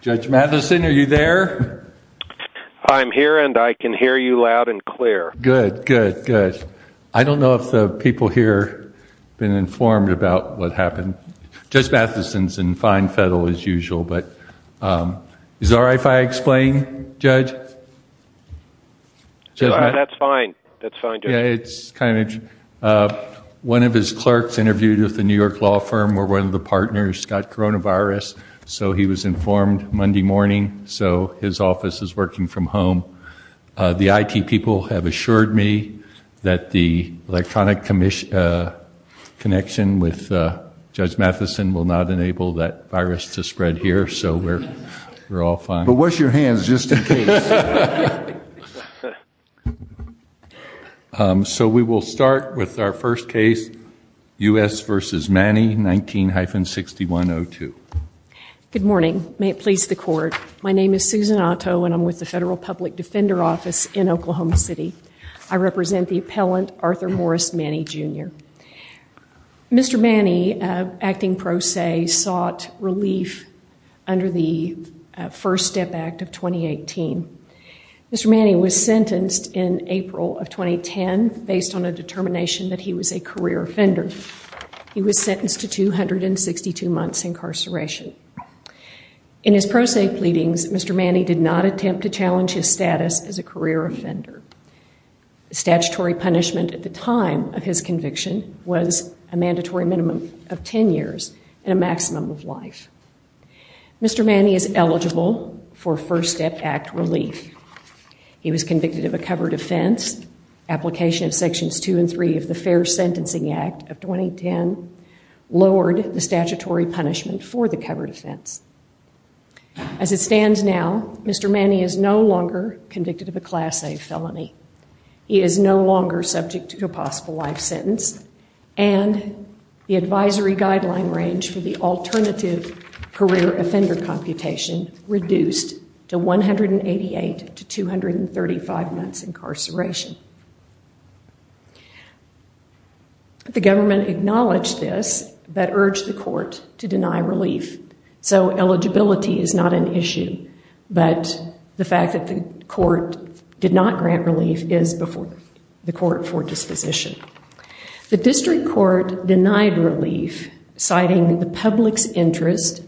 Judge Matheson, are you there? I'm here and I can hear you loud and clear. Good, good, good. I don't know if the people here been informed about what happened. Judge Matheson's in fine fettle as usual, but is it all right if I explain, Judge? That's fine, that's fine, Judge. Yeah, it's kind of interesting. One of his clerks interviewed with the New York law firm where one of the partners got coronavirus, so he was informed Monday morning, so his office is working from home. The IT people have assured me that the electronic connection with Judge Matheson will not enable that virus to spread here, so we're all fine. But wash your hands just in case. So we will start with our first case, U.S. v. Mannie, 19-6102. Good morning, may it please the court. My name is Susan Otto and I'm with the Federal Public Defender Office in Oklahoma City. I represent the appellant, Arthur Morris Mannie, Jr. Mr. Mannie, acting pro se, sought relief under the First Step Act of 2018. Mr. Mannie was sentenced in April of 2010 based on a determination that he was a career offender. He was sentenced to 262 months incarceration. In his pro se pleadings, Mr. Punishment at the time of his conviction was a mandatory minimum of 10 years and a maximum of life. Mr. Mannie is eligible for First Step Act relief. He was convicted of a covered offense, application of Sections 2 and 3 of the Fair Sentencing Act of 2010, lowered the statutory punishment for the covered offense. As it stands now, Mr. Mannie is no longer convicted of a Class A felony. He is no longer subject to a possible life sentence and the advisory guideline range for the alternative career offender computation reduced to 188 to 235 months incarceration. The government acknowledged this but urged the court to deny relief. So eligibility is not an issue. The court did not grant relief is the court for disposition. The district court denied relief, citing the public's interest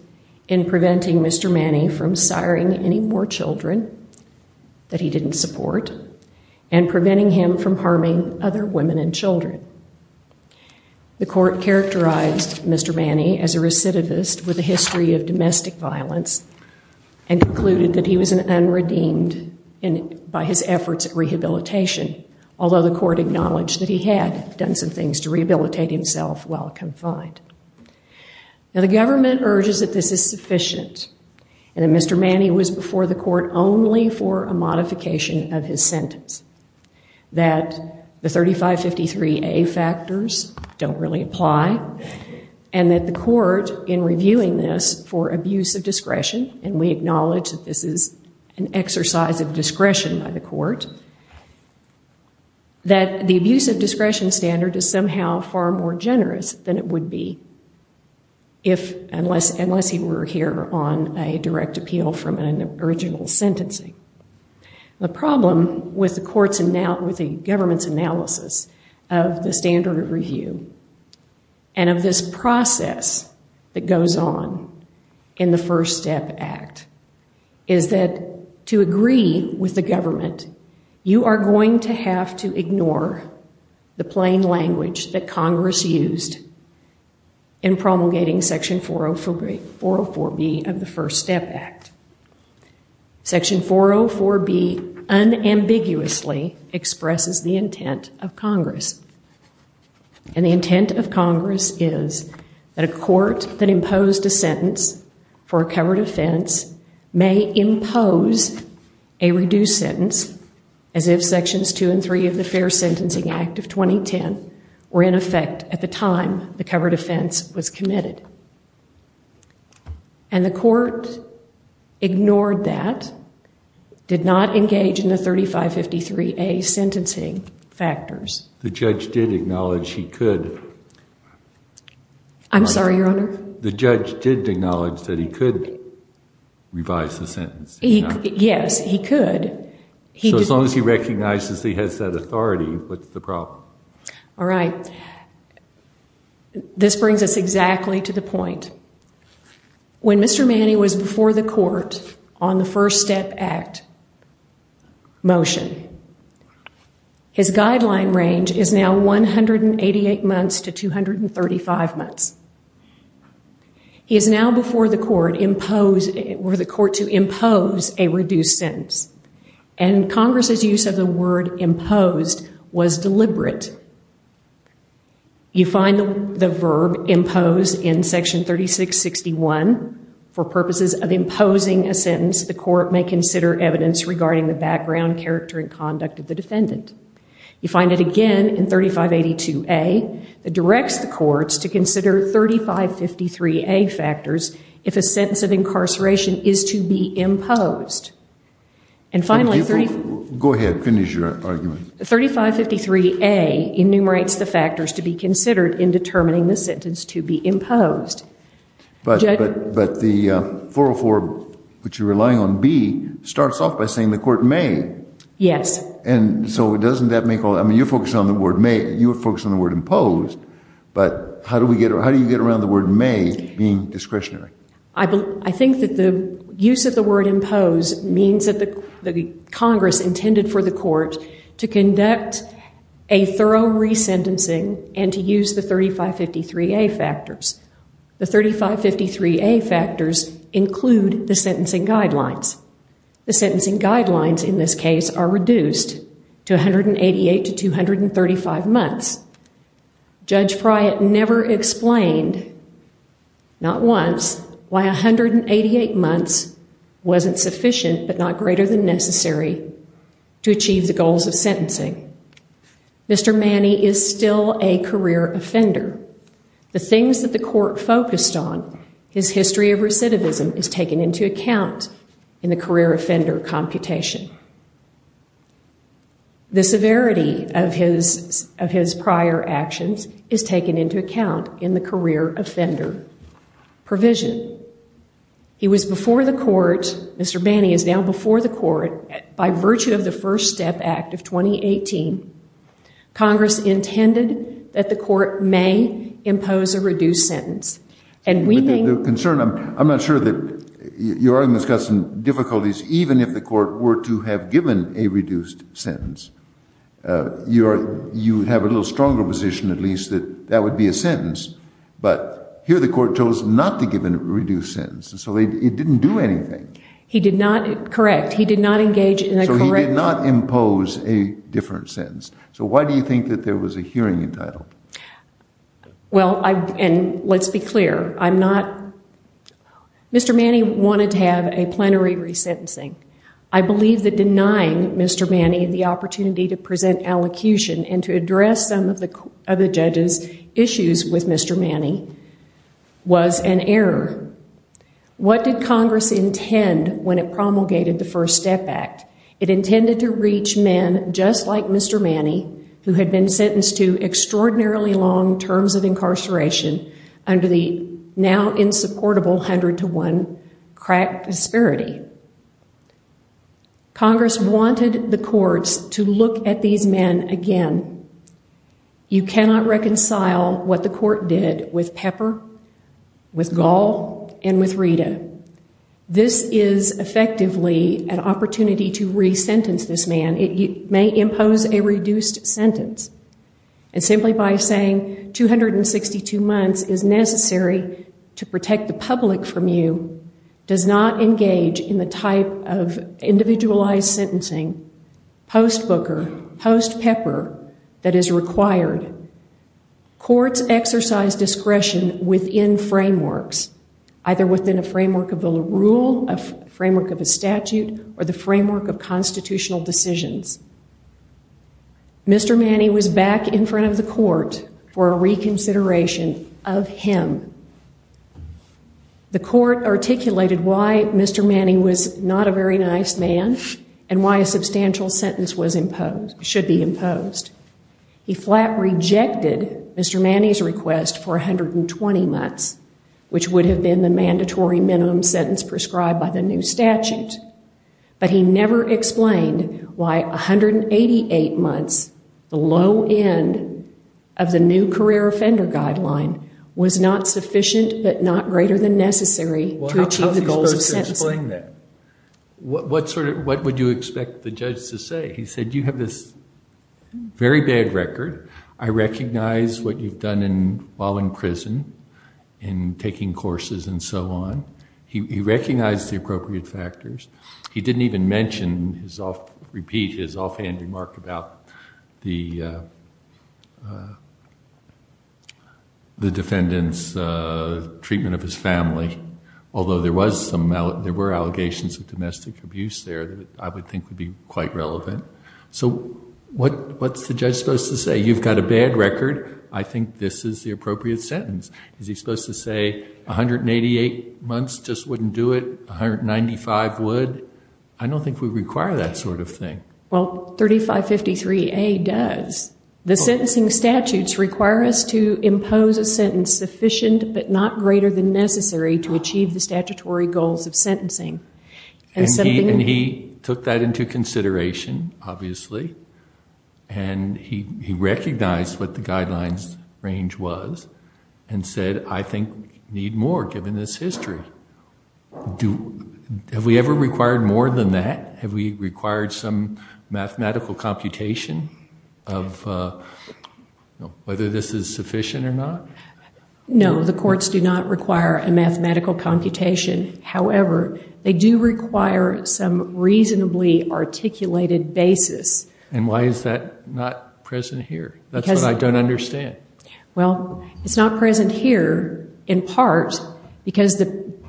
in preventing Mr. Mannie from siring any more children that he didn't support and preventing him from harming other women and children. The court characterized Mr. Mannie as a recidivist with a history of domestic violence and concluded that he was an redeemed by his efforts at rehabilitation, although the court acknowledged that he had done some things to rehabilitate himself while confined. Now the government urges that this is sufficient and that Mr. Mannie was before the court only for a modification of his sentence. That the 3553A factors don't really apply and that the court in reviewing this for abuse of discretion and we exercise of discretion by the court that the abuse of discretion standard is somehow far more generous than it would be if unless he were here on a direct appeal from an original sentencing. The problem with the government's analysis of the standard of review and of this process that goes on in the First Step Act is that to agree with the government, you are going to have to ignore the plain language that Congress used in promulgating Section 404B of the First Step Act. Section 404B unambiguously expresses the that the court that imposed a sentence for a covered offense may impose a reduced sentence as if Sections 2 and 3 of the Fair Sentencing Act of 2010 were in effect at the time the covered offense was committed. And the court ignored that, did not engage in the 3553A sentencing factors. The judge did acknowledge he could. I'm sorry, your honor? The judge did acknowledge that he could revise the sentence. Yes, he could. So as long as he recognizes he has that authority, what's the problem? All right, this brings us exactly to the point. When Mr. Manning was before the court on the First Step Act motion, his guideline range is now 188 months to 235 months. He is now before the court to impose a reduced sentence. And Congress's use of the word imposed was deliberate. You find the verb impose in Section 3661 for purposes of imposing a sentence the court may consider evidence regarding the background, character, and conduct of the defendant. You find it again in 3582A that directs the courts to consider 3553A factors if a sentence of incarceration is to be imposed. And finally, go ahead, finish your argument. 3553A enumerates the factors to be considered in determining the sentence to be imposed. But the 404 which you're relying on, B, starts off by saying the court may. Yes. And so doesn't that make all, I mean you're focused on the word may, you were focused on the word imposed, but how do we get, how do you get around the word may being discretionary? I think that the court has to conduct a thorough resentencing and to use the 3553A factors. The 3553A factors include the sentencing guidelines. The sentencing guidelines in this case are reduced to 188 to 235 months. Judge Pryatt never explained, not once, why 188 months wasn't sufficient but not greater than Mr. Manny is still a career offender. The things that the court focused on, his history of recidivism is taken into account in the career offender computation. The severity of his prior actions is taken into account in the career offender provision. He was before the court, Mr. Manny is now before the court by virtue of the First Step Act of 2018. Congress intended that the court may impose a reduced sentence. And we think... The concern, I'm not sure that you're already discussing difficulties even if the court were to have given a reduced sentence. You have a little stronger position at least that that would be a sentence, but here the court chose not to give a reduced sentence. So it didn't do anything. He did not, correct, he did not engage in a correct... So he did not impose a different sentence. So why do you think that there was a hearing entitled? Well, and let's be clear, I'm not... Mr. Manny wanted to have a plenary resentencing. I believe that denying Mr. Manny the opportunity to present allocution and to address some of the judge's issues with Mr. Manny was an error. What did Congress intend when it promulgated the First Step Act? Well, Congress wanted to look at these men just like Mr. Manny, who had been sentenced to extraordinarily long terms of incarceration under the now insupportable 100 to 1 crack disparity. Congress wanted the courts to look at these men again. You cannot reconcile what the a reduced sentence. And simply by saying 262 months is necessary to protect the public from you does not engage in the type of individualized sentencing, post-Booker, post-Pepper that is required. Courts exercise discretion within frameworks, either within a framework of a rule, framework of a statute, or the framework of constitutional decisions. Mr. Manny was back in front of the court for a reconsideration of him. The court articulated why Mr. Manny was not a very nice man and why a substantial sentence should be imposed. He flat rejected Mr. Manny's request for 120 months, which would have been the mandatory minimum sentence prescribed by the new statute. But he never explained why 188 months, the low end of the new career offender guideline, was not sufficient, but not greater than necessary to achieve the goals of sentencing. How was he supposed to explain that? What would you expect the judge to say? He said, you have this very bad record. I recognize what you've while in prison and taking courses and so on. He recognized the appropriate factors. He didn't even repeat his offhand remark about the defendant's treatment of his family, although there were allegations of domestic abuse there that I would think would be quite relevant. So what's the judge supposed to say? You've got a bad record. I think this is the appropriate sentence. Is he supposed to say 188 months just wouldn't do it? 195 would? I don't think we require that sort of thing. Well, 3553A does. The sentencing statutes require us to impose a sentence sufficient but not greater than necessary to achieve the statutory goals of obviously. And he recognized what the guidelines range was and said, I think we need more given this history. Have we ever required more than that? Have we required some mathematical computation of whether this is sufficient or not? No, the courts do not require a mathematical computation. However, they do require some reasonably articulated basis. And why is that not present here? That's what I don't understand. Well, it's not present here in part because the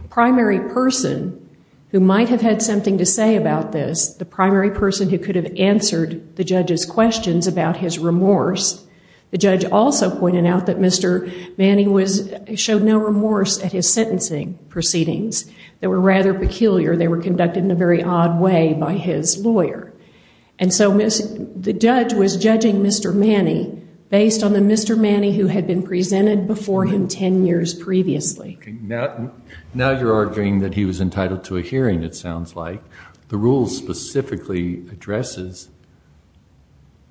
primary person who might have had something to say about this, the primary person who could have answered the judge's questions about his remorse, the judge also pointed out that Mr. Manning showed no remorse at his sentencing proceedings that were rather peculiar. They were conducted in a very odd way by his lawyer. And so the judge was judging Mr. Manning based on the Mr. Manning who had been presented before him 10 years previously. Now you're arguing that he was entitled to a hearing, it sounds like. The rule specifically addresses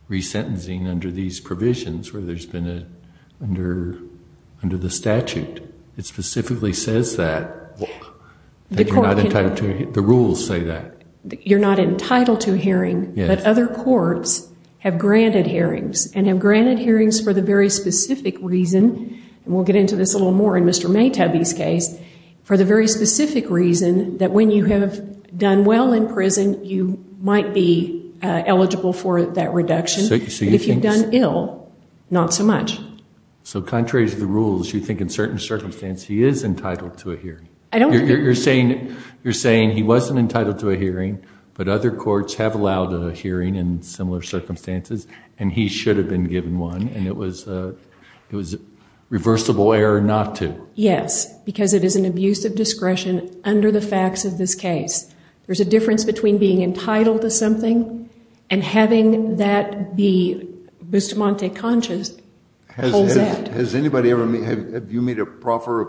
resentencing under these guidelines. It specifically says that. The rules say that. You're not entitled to a hearing, but other courts have granted hearings and have granted hearings for the very specific reason, and we'll get into this a little more in Mr. Maytabi's case, for the very specific reason that when you have done well in prison, you might be eligible for that reduction. If you've done ill, not so much. So contrary to the rules, you think in certain circumstances he is entitled to a hearing. You're saying he wasn't entitled to a hearing, but other courts have allowed a hearing in similar circumstances, and he should have been given one, and it was a reversible error not to. Yes, because it is an abuse of discretion under the facts of this case. There's a difference between being entitled to something and having that be Bustamante conscious. Has anybody ever, have you made a proper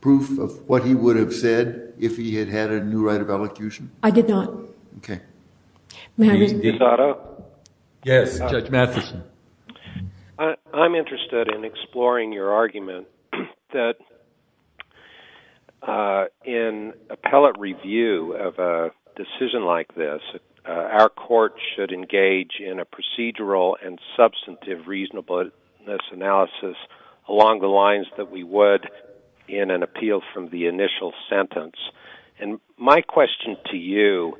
proof of what he would have said if he had had a new right of elocution? I did not. Okay. Yes, Judge Matheson. I'm interested in exploring your argument that in appellate review of a decision like this, our court should engage in a procedural and substantive reasonableness analysis along the lines that we would in an appeal from the initial sentence. And my question to you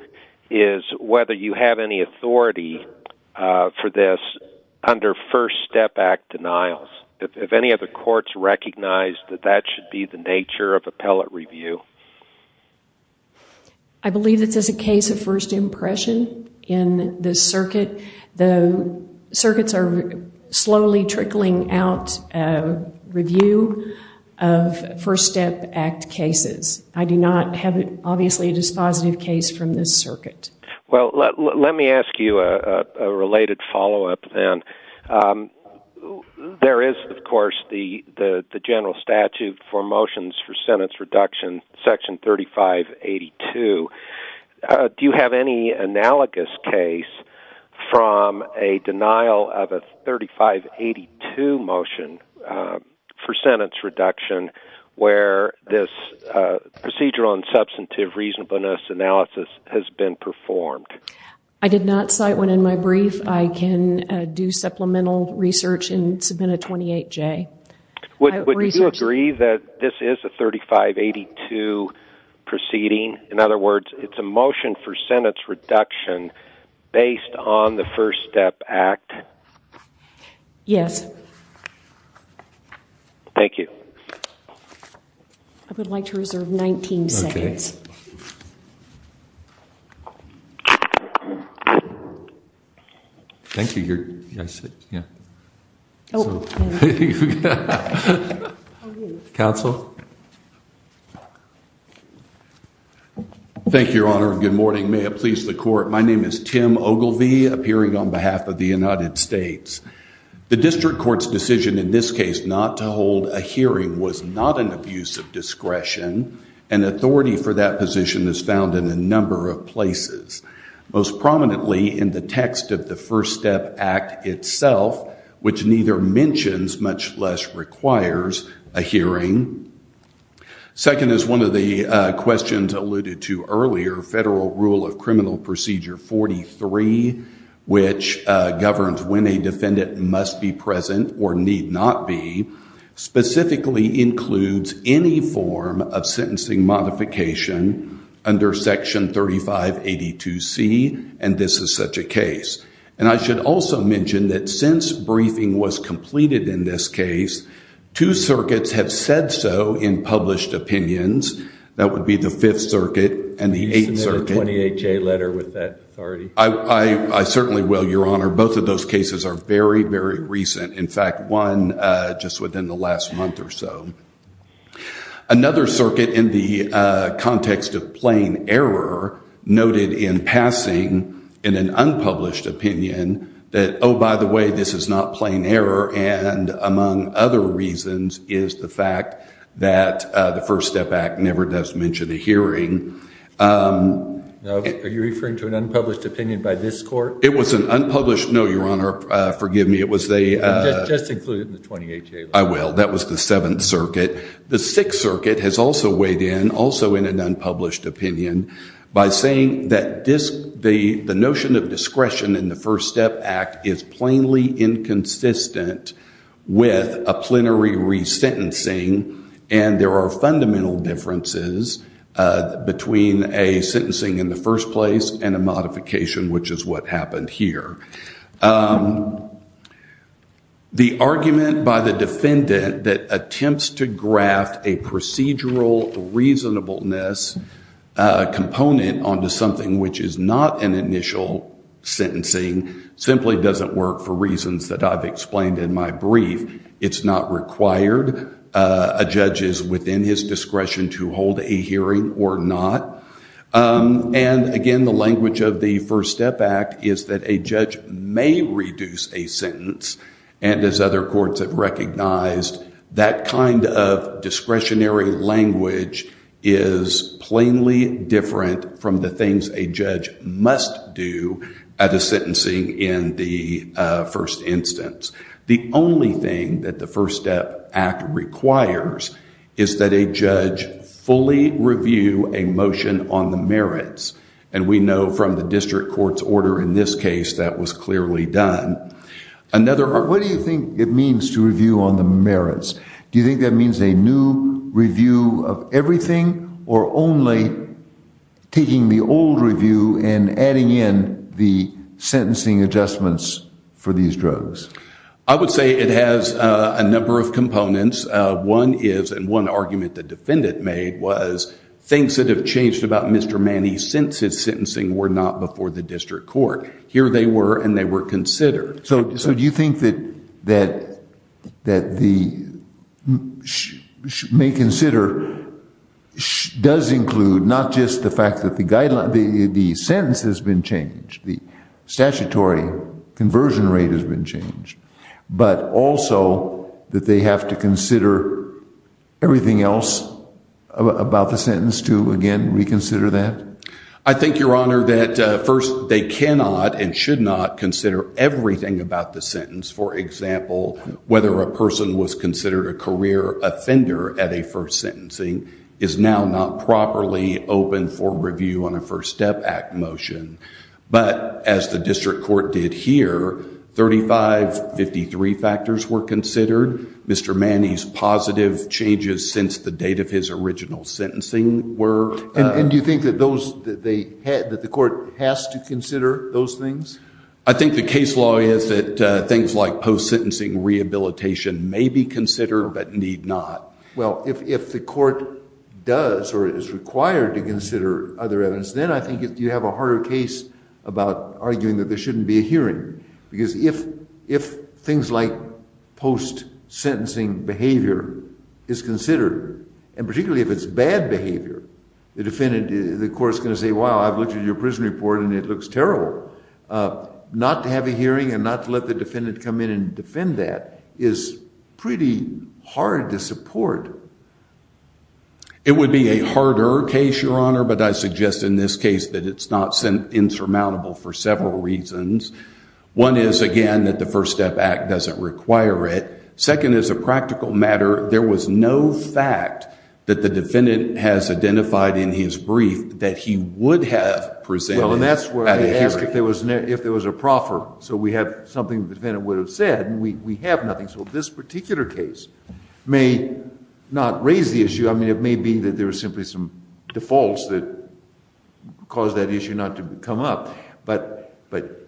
is whether you have any authority for this under First Step Act denials. Have any other courts recognized that that should be the nature of appellate review? I believe this is a case of first impression in this circuit. The circuits are slowly trickling out a review of First Step Act cases. I do not have, obviously, a dispositive case from this There is, of course, the general statute for motions for sentence reduction, section 3582. Do you have any analogous case from a denial of a 3582 motion for sentence reduction where this procedural and substantive reasonableness analysis has been performed? I did not cite one in my brief. I can do supplemental research and submit a 28-J. Would you agree that this is a 3582 proceeding? In other words, it's a motion for sentence reduction based on the First Step Act? Yes. Thank you. I would like to reserve 19 seconds. Thank you, Your Honor. Good morning. May it please the court. My name is Tim Ogilvie, appearing on behalf of the United States. The district court's decision in this case not to hold a hearing was not an abuse of discretion, and authority for that position is found in a number of places, most prominently in the text of the First Step Act itself, which neither mentions much less requires a hearing. Second, as one of the questions alluded to earlier, Federal Rule of Criminal Procedure 43, which governs when a defendant must be present or need not be, specifically includes any form of sentencing modification under Section 3582C, and this is such a case. And I should also mention that since briefing was completed in this case, two circuits have said so in published opinions. That would be the Fifth Circuit and the Eighth Circuit. Isn't there a 28-J letter with that authority? I certainly will, Your Honor. Both of those cases are very, very recent. In fact, one just within the last month or so. Another circuit in the context of plain error noted in passing in an unpublished opinion that, oh, by the way, this is not plain error, and among other reasons is the fact that the First Step Act never does mention a hearing. Are you referring to an unpublished opinion by this court? It was unpublished. No, Your Honor. Forgive me. It was a... Just include it in the 28-J. I will. That was the Seventh Circuit. The Sixth Circuit has also weighed in, also in an unpublished opinion, by saying that the notion of discretion in the First Step Act is plainly inconsistent with a plenary resentencing, and there are fundamental differences between a sentencing in the first place and a modification, which is what happened here. The argument by the defendant that attempts to graft a procedural reasonableness component onto something which is not an initial sentencing simply doesn't work for reasons that I've explained in my brief. It's not required. A judge is within his discretion to hold a hearing or not, and again, the language of the First Step Act is that a judge may reduce a sentence, and as other courts have recognized, that kind of discretionary language is plainly different from the things a judge must do at a sentencing in the first instance. The only thing that the fully review a motion on the merits, and we know from the district court's order in this case that was clearly done. Another... What do you think it means to review on the merits? Do you think that means a new review of everything or only taking the old review and adding in the sentencing adjustments for these drugs? I would say it has a number of components. One is, and one argument the defendant made was, things that have changed about Mr. Manny since his sentencing were not before the district court. Here they were, and they were considered. So do you think that the may consider does include not just the fact that the sentence has been changed, the statutory conversion rate has been changed, but also that they have to consider everything else about the sentence to, again, reconsider that? I think, Your Honor, that first they cannot and should not consider everything about the sentence. For example, whether a person was considered a career offender at a first sentencing is now not properly open for review on a First Step Act motion, but as the district court did here, 3553 factors were considered. Mr. Manny's positive changes since the date of his original sentencing were... And do you think that those that they had, that the court has to consider those things? I think the case law is that things like post-sentencing rehabilitation may be considered but need not. Well, if the court does or is required to consider other evidence, then I think you have a harder case about arguing that there shouldn't be a hearing. Because if things like post-sentencing behavior is considered, and particularly if it's bad behavior, the defendant, the court's going to say, wow, I've looked at your prison report and it looks terrible. Not to have a hearing and not to let the defendant come in and defend that is pretty hard to support. It would be a harder case, Your Honor, but I suggest in this case that it's not insurmountable for several reasons. One is, again, that the First Step Act doesn't require it. Second, as a practical matter, there was no fact that the defendant has identified in his brief that he would have presented at a hearing. Well, and that's where they ask if there was a proffer. So we have something the defendant would have said, and we have nothing. So this particular case may not raise the issue. I mean, it may be that there are simply some defaults that cause that issue not to come up. But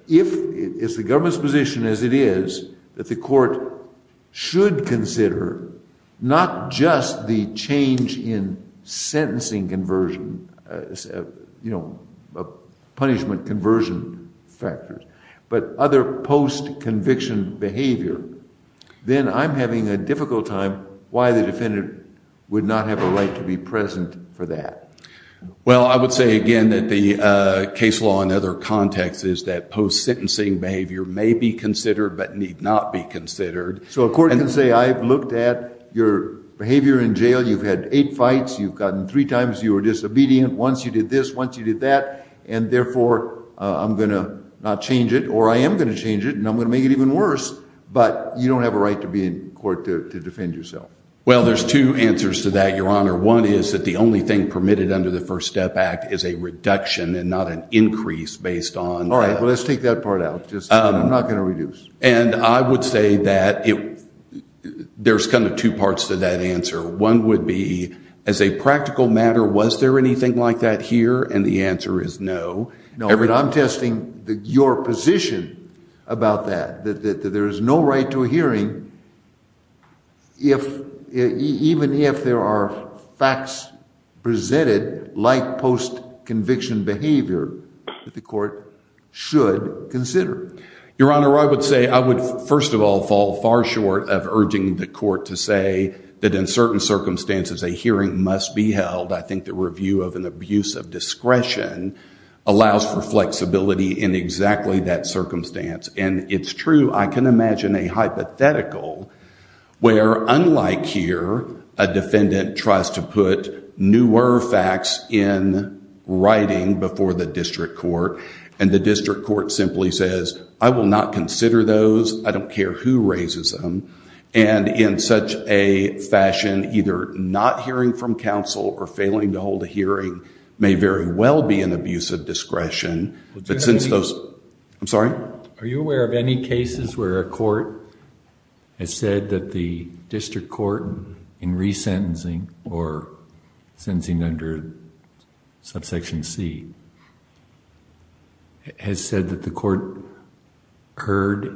if it's the government's position, as it is, that the court should consider not just the change in sentencing conversion, punishment conversion factors, but other post-conviction behavior, then I'm having a difficult time why the defendant would not have a right to be present for that. Well, I would say, again, that the case law in other contexts is that post-sentencing behavior may be considered but need not be considered. So a court can say, I've looked at your behavior in jail. You've had eight fights. You've gotten three times you were disobedient. Once you did this, once you did that. And therefore, I'm going to not change it, or I am going to change it, and I'm going to make it even worse. But you don't have a right to be in court to defend yourself. Well, there's two answers to that, Your Honor. One is that the only thing permitted under the First Step Act is a reduction and not an increase based on... All right, well, let's take that part out. I'm not going to reduce. And I would say that there's kind of two parts to that answer. One would be, as a practical matter, was there anything like that here? And the answer is no. No, but I'm testing your position about that, that there is no right to a hearing even if there are facts presented like post-conviction behavior that the of urging the court to say that in certain circumstances a hearing must be held. I think the review of an abuse of discretion allows for flexibility in exactly that circumstance. And it's true. I can imagine a hypothetical where, unlike here, a defendant tries to put newer facts in writing before the district court, and the district court simply says, I will not consider those. I don't care who raises them. And in such a fashion, either not hearing from counsel or failing to hold a hearing may very well be an abuse of discretion. But since those... I'm sorry? Are you aware of any cases where a court has said that the district heard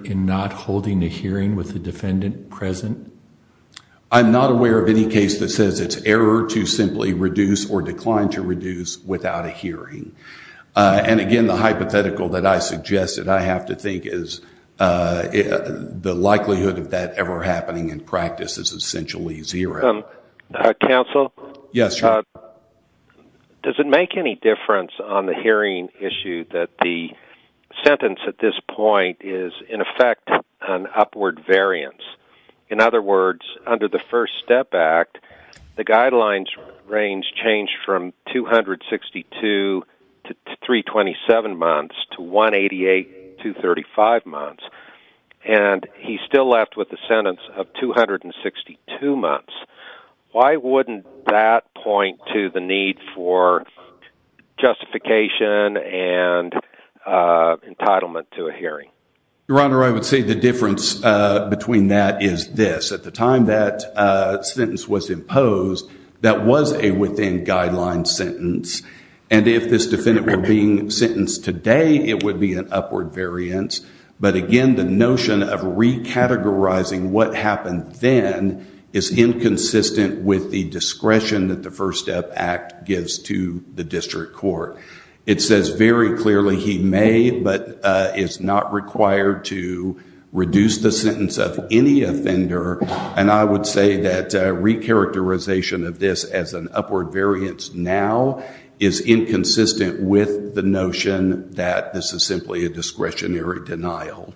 in not holding a hearing with the defendant present? I'm not aware of any case that says it's error to simply reduce or decline to reduce without a hearing. And again, the hypothetical that I suggested, I have to think is the likelihood of that ever happening in practice is essentially zero. Counsel? Yes. Uh, does it make any difference on the hearing issue that the sentence at this point is in effect an upward variance? In other words, under the First Step Act, the guidelines range changed from 262 to 327 months to 188 to 35 months. And he still left with the sentence of 262 months. Why wouldn't that point to the need for justification and entitlement to a hearing? Your Honor, I would say the difference between that is this. At the time that sentence was imposed, that was a within guideline sentence. And if this defendant were being sentenced today, it would be an upward variance. But again, the notion of recategorizing what happened then is inconsistent with the discretion that the First Step Act gives to the district court. It says very clearly he may, but is not required to reduce the sentence of any offender. And I would say that a recharacterization of this as an upward variance now is inconsistent with the notion that this is simply a discretionary denial.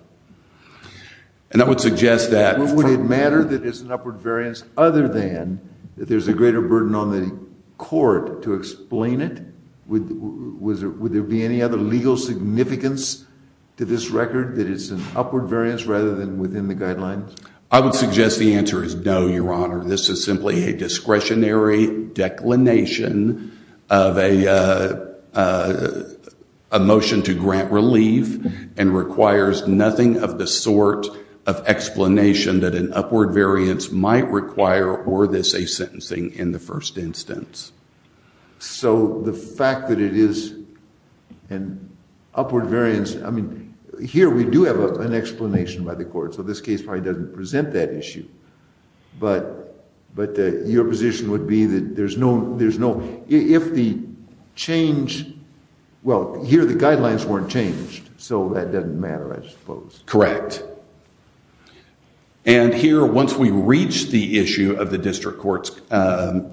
And I would suggest that would it matter that it's an upward variance other than that there's a greater burden on the court to explain it? Would there be any other legal significance to this record that it's an upward variance rather than within the guidelines? I would suggest the answer is no, Your Honor. This is simply a discretionary declination of a motion to grant relief and requires nothing of the sort of explanation that an upward variance might require or this a sentencing in the first instance. So the fact that it is an upward variance, I mean, here we do have an explanation by the court. So this case probably doesn't present that issue. But your position would be that there's no, if the change, well, here the guidelines weren't changed. So that doesn't matter, I suppose. Correct. And here, once we reach the issue of the district court's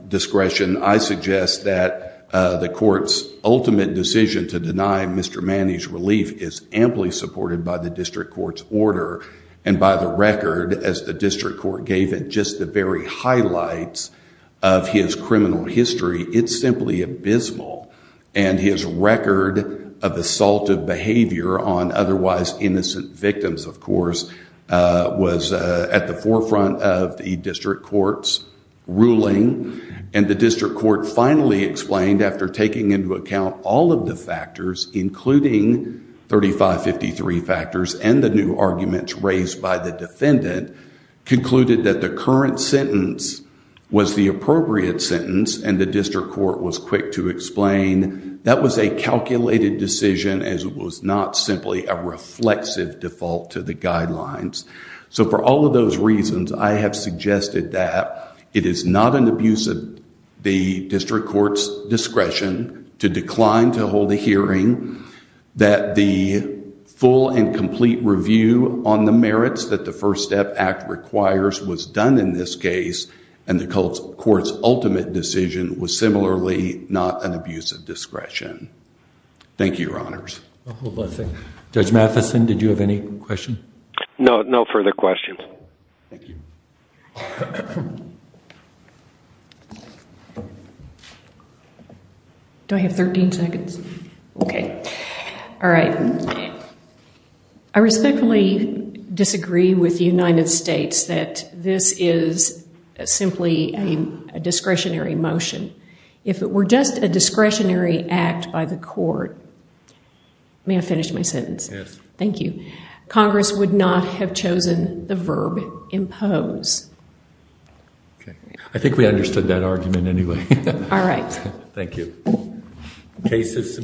discretion, I suggest that the court's ultimate decision to deny Mr. Manny's relief is amply supported by the district court's order. And by the record, as the district court gave it, just the very highlights of his criminal history, it's simply abysmal. And his record of assaultive behavior on otherwise innocent victims, of course, was at the forefront of the district court's ruling. And the district court finally explained after taking into account all of the factors, including 3553 factors and the new arguments raised by the defendant, concluded that the current sentence was the appropriate sentence and the district court was quick to explain that was a calculated decision as it was not simply a reflexive default to the guidelines. So for all of those reasons, I have suggested that it is not an abuse of the district court's discretion to decline to hold a hearing, that the full and complete review on the merits that the First Step Act requires was done in this similarly not an abuse of discretion. Thank you, Your Honors. Hold on a second. Judge Matheson, did you have any questions? No, no further questions. Do I have 13 seconds? Okay. All right. I respectfully disagree with the United States that this is simply a discretionary motion. If it were just a discretionary act by the court, may I finish my sentence? Yes. Thank you. Congress would not have chosen the verb impose. Okay. I think we understood that argument anyway. All right. Thank you. Case is submitted.